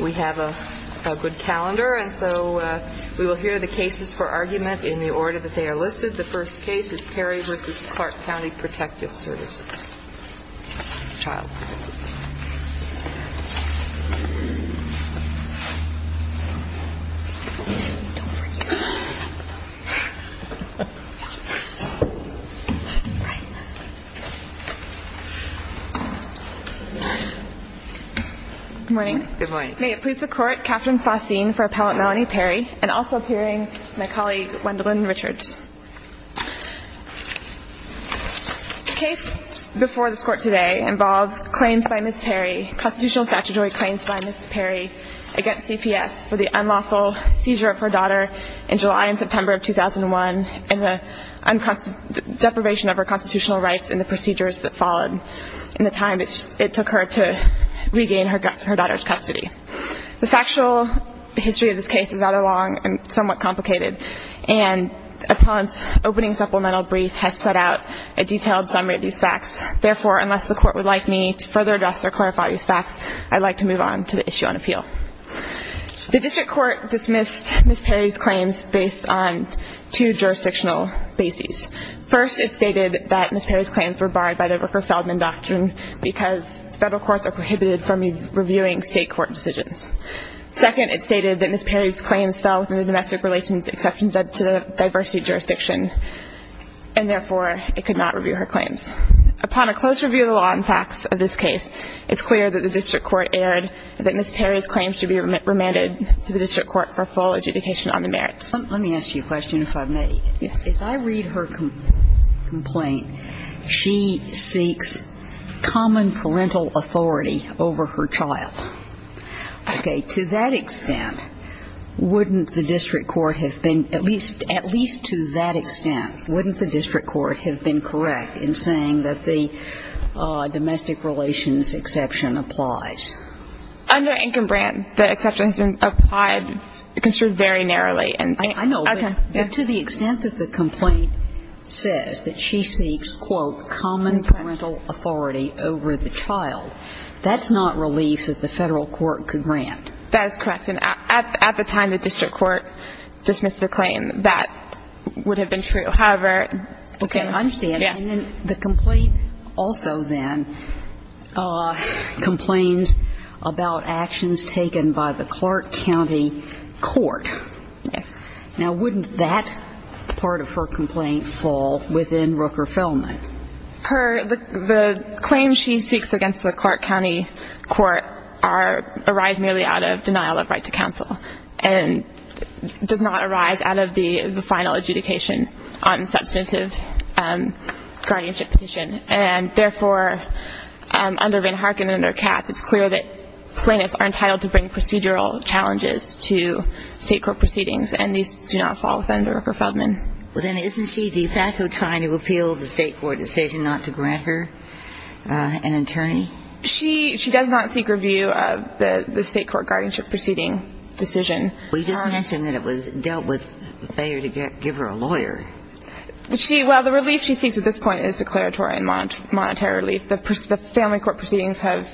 We have a good calendar, and so we will hear the cases for argument in the order that they are listed. The first case is Perry v. Clark County Protective Services. Child. Good morning. Good morning. May it please the Court, Katherine Faustine for Appellant Melanie Perry, and also appearing my colleague Wendalyn Richards. The case before this Court today involves claims by Ms. Perry, constitutional statutory claims by Ms. Perry against CPS for the unlawful seizure of her daughter in July and September of 2001 and the deprivation of her constitutional rights and the procedures that followed in the time it took her to regain her daughter's custody. The factual history of this case is rather long and somewhat complicated, and Appellant's opening supplemental brief has set out a detailed summary of these facts. Therefore, unless the Court would like me to further address or clarify these facts, I'd like to move on to the issue on appeal. The district court dismissed Ms. Perry's claims based on two jurisdictional bases. First, it stated that Ms. Perry's claims were barred by the Rooker-Feldman Doctrine because federal courts are prohibited from reviewing state court decisions. Second, it stated that Ms. Perry's claims fell within the domestic relations exception due to the diversity jurisdiction, and therefore, it could not review her claims. Upon a close review of the law and facts of this case, it's clear that the district court erred that Ms. Perry's claims should be remanded to the district court for full adjudication on the merits. Let me ask you a question, if I may. Yes. As I read her complaint, she seeks common parental authority over her child. Okay. To that extent, wouldn't the district court have been at least to that extent, wouldn't the district court have been correct in saying that the domestic relations exception applies? Under Income Grant, the exception has been applied, construed very narrowly. I know. Okay. But to the extent that the complaint says that she seeks, quote, common parental authority over the child, that's not relief that the federal court could grant. That is correct. And at the time the district court dismissed the claim, that would have been true. However – Okay, I understand. Yes. And then the complaint also then complains about actions taken by the Clark County Court. Yes. Now, wouldn't that part of her complaint fall within Rooker-Feldman? The claims she seeks against the Clark County Court arise merely out of denial of right to counsel and does not arise out of the final adjudication on substantive guardianship petition. And therefore, under Van Harken and under Katz, it's clear that plaintiffs are entitled to bring procedural challenges to state court proceedings, and these do not fall within Rooker-Feldman. Well, then isn't she de facto trying to appeal the state court decision not to grant her an attorney? She does not seek review of the state court guardianship proceeding decision. We just mentioned that it was dealt with failure to give her a lawyer. Well, the relief she seeks at this point is declaratory and monetary relief. The family court proceedings have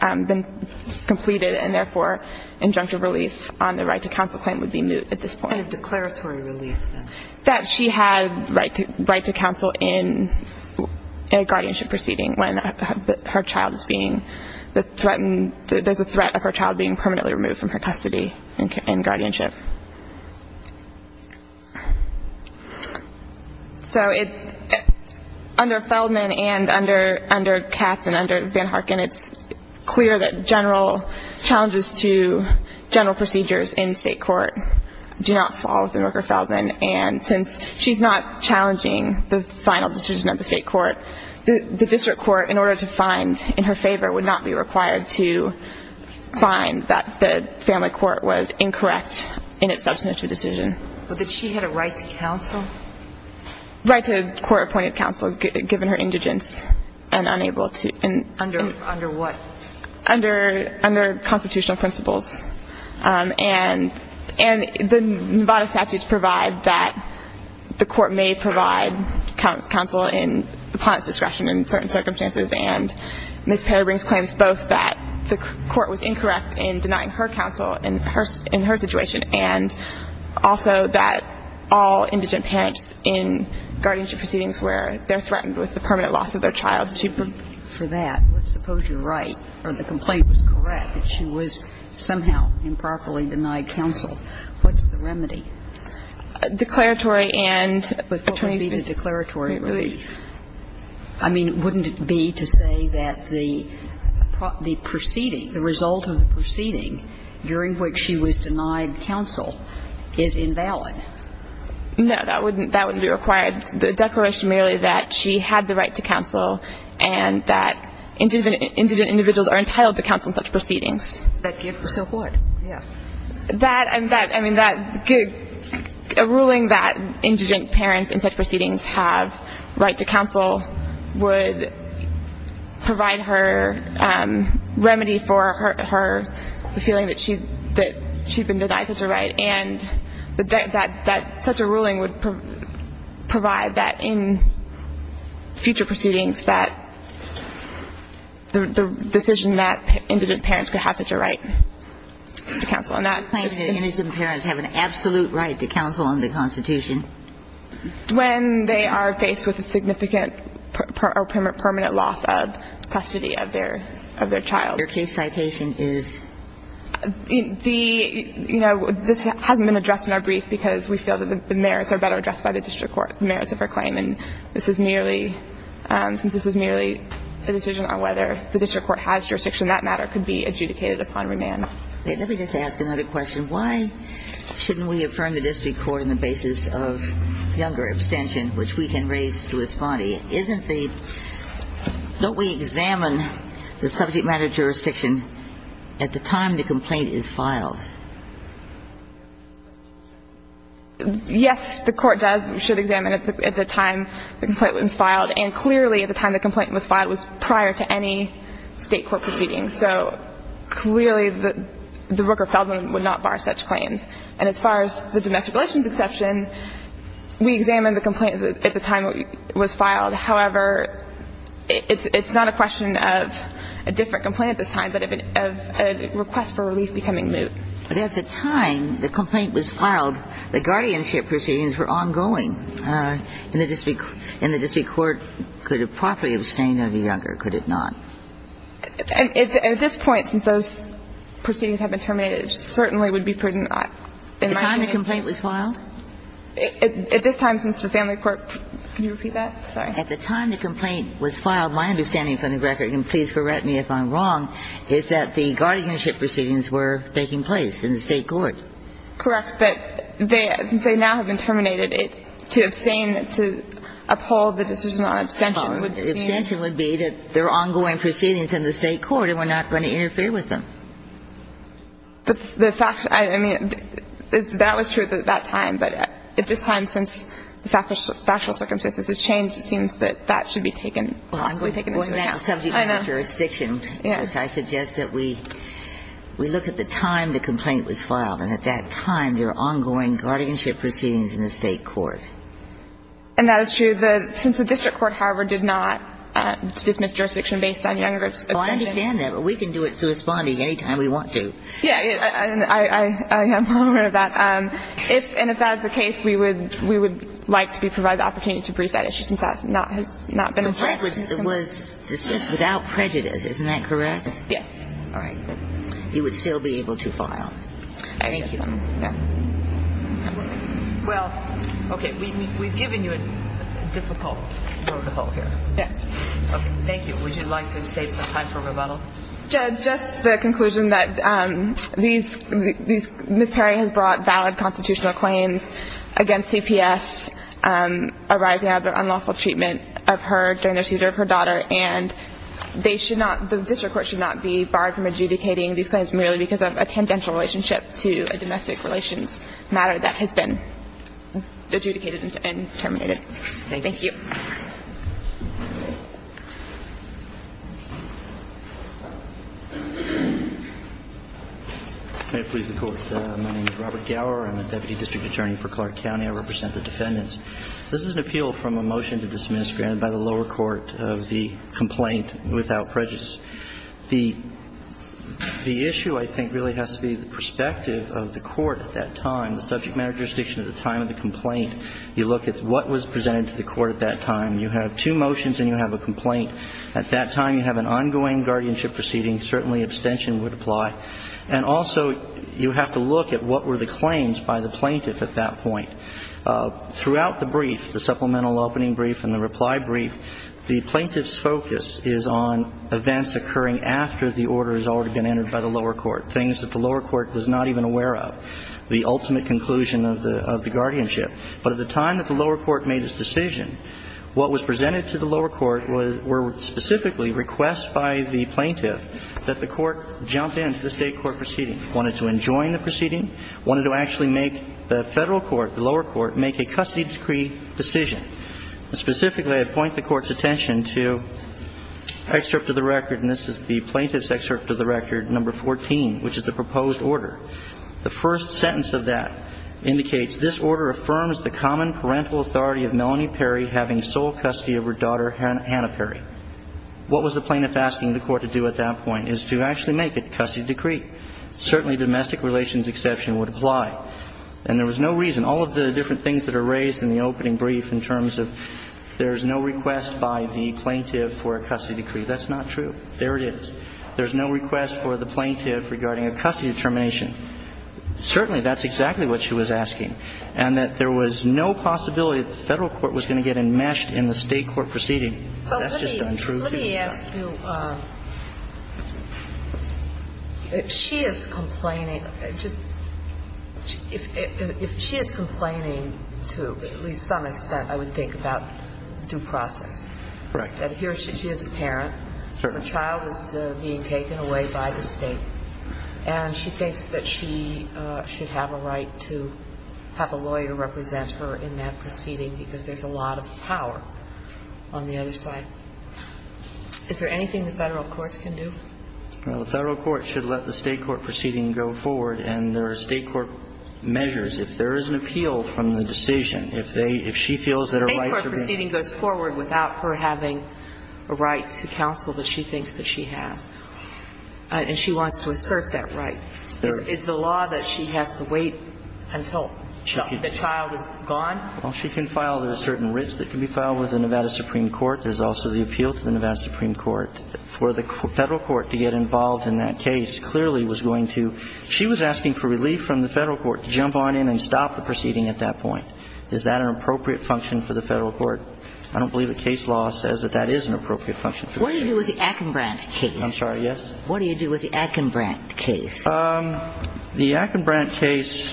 been completed, and therefore, injunctive relief on the right to counsel claim would be moot at this point. What kind of declaratory relief, then? That she had right to counsel in a guardianship proceeding when her child is being threatened. There's a threat of her child being permanently removed from her custody in guardianship. So under Feldman and under Katz and under Van Harken, it's clear that general challenges to general procedures in state court do not fall within Rooker-Feldman. And since she's not challenging the final decision of the state court, the district court, in order to find in her favor, would not be required to find that the family court was incorrect in its substantive decision. But did she have a right to counsel? Right to court-appointed counsel, given her indigence and unable to. Under what? Under constitutional principles. And the Nevada statutes provide that the court may provide counsel upon its discretion in certain circumstances. And Ms. Perrybrink claims both that the court was incorrect in denying her counsel in her situation, and also that all indigent parents in guardianship proceedings where they're threatened with the permanent loss of their child, she proved it. For that, let's suppose you're right, or the complaint was correct, that she was somehow improperly denied counsel. What's the remedy? Declaratory and attorney's relief. But what would be the declaratory relief? I mean, wouldn't it be to say that the proceeding, the result of the proceeding during which she was denied counsel, is invalid? No. That wouldn't be required. The declaration merely that she had the right to counsel and that indigent individuals are entitled to counsel in such proceedings. So what? Yeah. A ruling that indigent parents in such proceedings have right to counsel would provide her remedy for her feeling that she'd been denied such a right, and that such a ruling would provide that in future proceedings that the decision that indigent parents could have such a right to counsel. The claim that indigent parents have an absolute right to counsel under the Constitution? When they are faced with a significant or permanent loss of custody of their child. Your case citation is? The, you know, this hasn't been addressed in our brief because we feel that the merits are better addressed by the district court, the merits of her claim. And this is merely, since this is merely a decision on whether the district court has jurisdiction, that matter could be adjudicated upon remand. Okay. Let me just ask another question. Why shouldn't we affirm the district court on the basis of younger abstention, which we can raise to respondee? Isn't the – don't we examine the subject matter jurisdiction at the time the complaint is filed? Yes, the court does. We should examine it at the time the complaint was filed. And clearly, at the time the complaint was filed, it was prior to any State court proceedings. So clearly, the Rooker-Feldman would not bar such claims. And as far as the domestic relations exception, we examine the complaint at the time it was filed. However, it's not a question of a different complaint at this time, but of a request for relief becoming moot. But at the time the complaint was filed, the guardianship proceedings were ongoing, and the district court could have properly abstained under younger, could it not? At this point, since those proceedings have been terminated, it certainly would be prudent in my opinion. At the time the complaint was filed? At this time, since the family court – can you repeat that? Sorry. At the time the complaint was filed, my understanding from the record – and please correct me if I'm wrong – is that the guardianship proceedings were taking place in the State court. Correct. But they – since they now have been terminated, to abstain, to uphold the decision on abstention would seem – Abstention would be that there are ongoing proceedings in the State court and we're not going to interfere with them. The fact – I mean, that was true at that time. But at this time, since the factual circumstances have changed, it seems that that should be taken – possibly taken into account. Well, I'm going back to subject matter jurisdiction. I know. Yeah. I suggest that we look at the time the complaint was filed, and at that time there are ongoing guardianship proceedings in the State court. And that is true. Since the district court, however, did not dismiss jurisdiction based on younger abstention. Well, I understand that. But we can do it corresponding any time we want to. Yeah. I am aware of that. If – and if that is the case, we would – we would like to be provided the opportunity to brief that issue since that has not been addressed. The fact was it was – this is without prejudice. Isn't that correct? Yes. All right. You would still be able to file. Thank you. Yeah. Well, okay. We've given you a difficult road to pull here. Yeah. Okay. Thank you. Would you like to save some time for rebuttal? Judge, just the conclusion that these – Ms. Perry has brought valid constitutional claims against CPS arising out of the unlawful treatment of her during the seizure of her daughter. And they should not – the district court should not be barred from adjudicating these claims merely because of a tangential relationship to a domestic relations matter that has been adjudicated and terminated. Thank you. May it please the Court. My name is Robert Gower. I'm a Deputy District Attorney for Clark County. I represent the defendants. This is an appeal from a motion to dismiss granted by the lower court of the complaint without prejudice. The issue, I think, really has to be the perspective of the court at that time, the subject matter jurisdiction at the time of the complaint. You look at what was presented to the court at that time. You have two motions and you have a complaint. At that time, you have an ongoing guardianship proceeding. Certainly, extension would apply. And also, you have to look at what were the claims by the plaintiff at that point. Throughout the brief, the supplemental opening brief and the reply brief, the plaintiff's focus is on events occurring after the order has already been entered by the lower court, things that the lower court was not even aware of, the ultimate conclusion of the guardianship. But at the time that the lower court made its decision, what was presented to the lower court were specifically requests by the plaintiff that the court jump into the state court proceeding, wanted to enjoin the proceeding, wanted to actually make the federal court, the lower court, make a custody decree decision. Specifically, I point the court's attention to excerpt of the record, and this is the plaintiff's excerpt of the record, number 14, which is the proposed order. The first sentence of that indicates this order affirms the common parental authority of Melanie Perry having sole custody of her daughter, Hannah Perry. What was the plaintiff asking the court to do at that point is to actually make a custody decree. Certainly, domestic relations exception would apply. And there was no reason. All of the different things that are raised in the opening brief in terms of there is no request by the plaintiff for a custody decree. That's not true. There it is. There's no request for the plaintiff regarding a custody determination. Certainly, that's exactly what she was asking, and that there was no possibility that the federal court was going to get enmeshed in the state court proceeding. That's just untrue. Let me ask you, if she is complaining to at least some extent, I would think about due process. Right. That here she is a parent. Sure. Her child is being taken away by the state, and she thinks that she should have a right to have a lawyer represent her in that proceeding because there's a lot of power on the other side. Is there anything the federal courts can do? Well, the federal court should let the state court proceeding go forward, and there are state court measures. If there is an appeal from the decision, if she feels that her right to remain ---- State court proceeding goes forward without her having a right to counsel that she thinks that she has. And she wants to assert that right. Is the law that she has to wait until the child is gone? Well, she can file. There are certain writs that can be filed with the Nevada Supreme Court. There's also the appeal to the Nevada Supreme Court. For the federal court to get involved in that case clearly was going to ---- She was asking for relief from the federal court to jump on in and stop the proceeding at that point. Is that an appropriate function for the federal court? I don't believe the case law says that that is an appropriate function. What do you do with the Akenbrandt case? I'm sorry, yes? What do you do with the Akenbrandt case? The Akenbrandt case,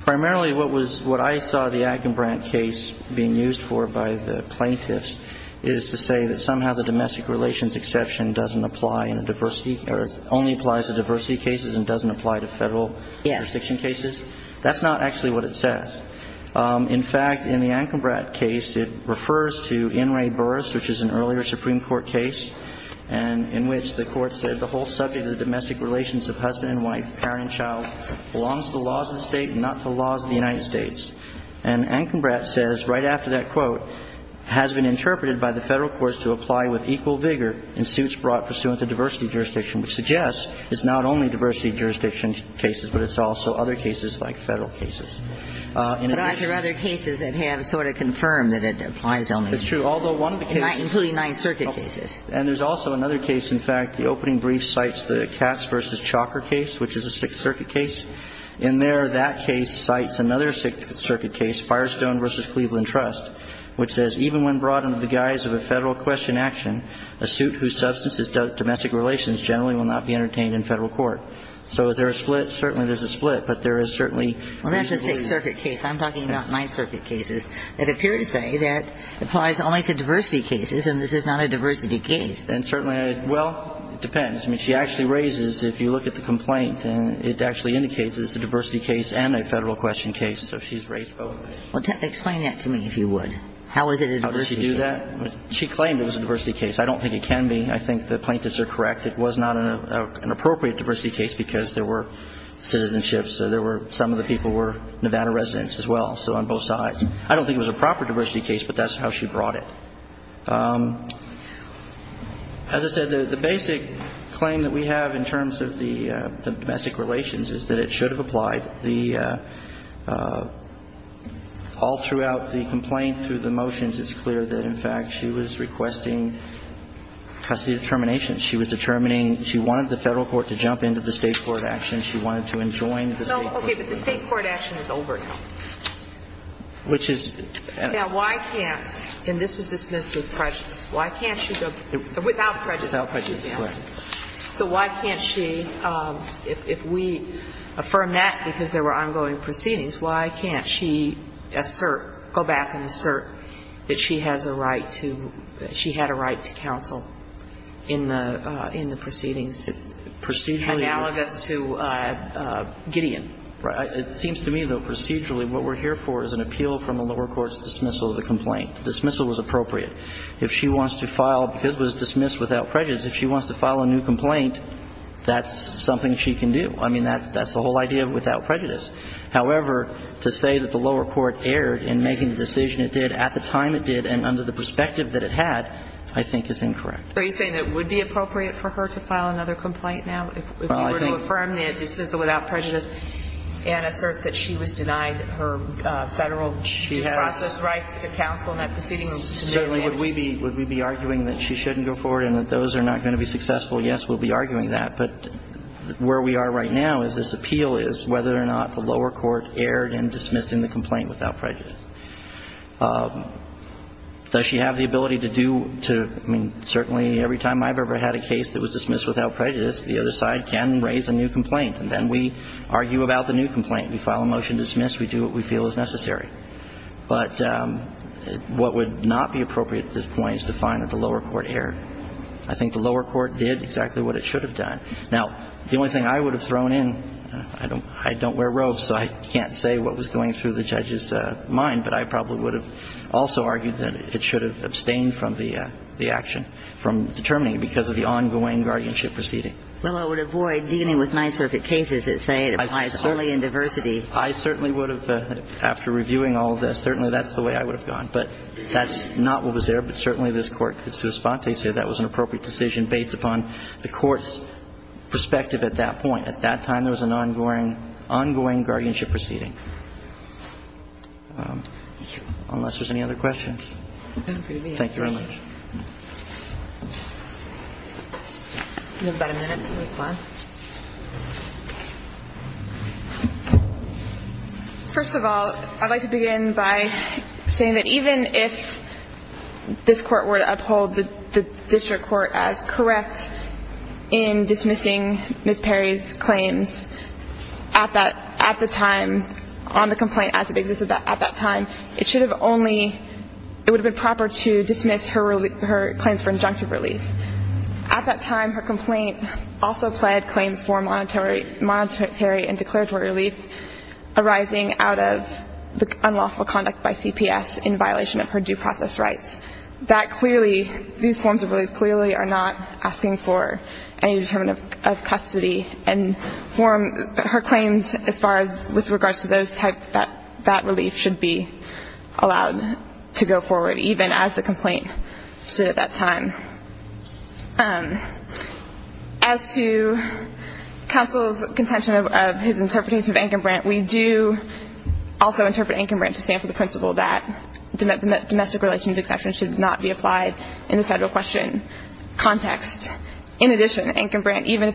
primarily what I saw the Akenbrandt case being used for by the plaintiffs is to say that somehow the domestic relations exception doesn't apply in a diversity or only applies to diversity cases and doesn't apply to federal jurisdiction cases. Yes. That's not actually what it says. In fact, in the Akenbrandt case, it refers to In re Burris, which is an earlier Supreme Court case. And in which the Court said the whole subject of the domestic relations of husband and wife, parent and child belongs to the laws of the State and not to the laws of the United States. And Akenbrandt says, right after that quote, has been interpreted by the federal courts to apply with equal vigor in suits brought pursuant to diversity jurisdiction, which suggests it's not only diversity jurisdiction cases, but it's also other cases like federal cases. But I've heard other cases that have sort of confirmed that it applies only. It's true, although one of the cases ---- Including Ninth Circuit cases. And there's also another case, in fact, the opening brief cites the Katz v. Chalker case, which is a Sixth Circuit case. In there, that case cites another Sixth Circuit case, Firestone v. Cleveland Trust, which says, even when brought under the guise of a federal question-action, a suit whose substance is domestic relations generally will not be entertained in federal court. So is there a split? Certainly there's a split, but there is certainly ---- Well, that's a Sixth Circuit case. I'm talking about Ninth Circuit cases that appear to say that it applies only to diversity cases. And certainly ---- Well, it depends. I mean, she actually raises, if you look at the complaint, it actually indicates it's a diversity case and a federal question case. So she's raised both. Well, explain that to me, if you would. How is it a diversity case? How does she do that? She claimed it was a diversity case. I don't think it can be. I think the plaintiffs are correct. It was not an appropriate diversity case because there were citizenships. There were ---- some of the people were Nevada residents as well, so on both sides. I don't think it was a proper diversity case, but that's how she brought it. As I said, the basic claim that we have in terms of the domestic relations is that it should have applied. The ---- all throughout the complaint through the motions, it's clear that, in fact, she was requesting custody of termination. She was determining she wanted the Federal court to jump into the State court action. She wanted to enjoin the State court. No, okay, but the State court action is over now. Which is ---- Now, why can't ---- and this was dismissed with prejudice. Why can't she go ---- without prejudice. Without prejudice, correct. So why can't she, if we affirm that because there were ongoing proceedings, why can't she assert, go back and assert that she has a right to ---- that she had a right to counsel in the proceedings analogous to Gideon? It seems to me, though, procedurally, what we're here for is an appeal from the lower court's dismissal of the complaint. The dismissal was appropriate. If she wants to file ---- because it was dismissed without prejudice, if she wants to file a new complaint, that's something she can do. I mean, that's the whole idea of without prejudice. However, to say that the lower court erred in making the decision it did at the time it did and under the perspective that it had, I think is incorrect. Are you saying that it would be appropriate for her to file another complaint now if you were to affirm the dismissal without prejudice? And assert that she was denied her federal due process rights to counsel in that proceeding? Certainly. Would we be arguing that she shouldn't go forward and that those are not going to be successful? Yes, we'll be arguing that. But where we are right now is this appeal is whether or not the lower court erred in dismissing the complaint without prejudice. Does she have the ability to do to ---- I mean, certainly every time I've ever had a case that was dismissed without prejudice, the other side can raise a new complaint, and then we argue about the new complaint. We file a motion to dismiss. We do what we feel is necessary. But what would not be appropriate at this point is to find that the lower court erred. I think the lower court did exactly what it should have done. Now, the only thing I would have thrown in, I don't wear robes, so I can't say what was going through the judge's mind, but I probably would have also argued that it should have abstained from the action, from determining because of the ongoing guardianship proceeding. Well, I would avoid dealing with Ninth Circuit cases that say it applies solely in diversity. I certainly would have, after reviewing all of this, certainly that's the way I would have gone. But that's not what was there, but certainly this Court could say that was an appropriate decision based upon the Court's perspective at that point. At that time, there was an ongoing guardianship proceeding. Unless there's any other questions. Thank you very much. You have about a minute for this one. First of all, I'd like to begin by saying that even if this Court were to uphold the district court as correct in dismissing Ms. Perry's claims at the time, on the complaint as it existed at that time, it should have only, it would have been proper to dismiss her claims for injunctive relief. At that time, her complaint also pled claims for monetary and declaratory relief arising out of the unlawful conduct by CPS in violation of her due process rights. That clearly, these forms of relief clearly are not asking for any determinant of custody and her claims as far as with regards to those type, that relief should be allowed to go forward even as the complaint stood at that time. As to counsel's contention of his interpretation of Ankenbrandt, we do also interpret Ankenbrandt to stand for the principle that domestic relations exception should not be applied in the federal question context. In addition, Ankenbrandt, even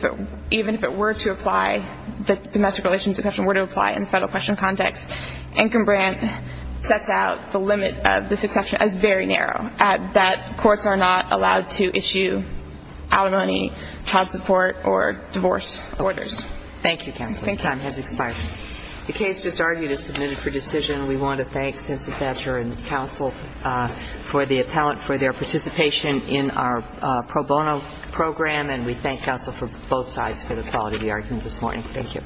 if it were to apply, the domestic relations exception were to apply in the federal question context, Ankenbrandt sets out the limit of this exception as very narrow, that courts are not allowed to issue alimony, child support, or divorce orders. Thank you, counsel. Thank you. Your time has expired. The case just argued is submitted for decision. We want to thank Simpson Thatcher and the counsel for their participation in our pro bono program, and we thank counsel for both sides for the quality of the argument this morning. Thank you.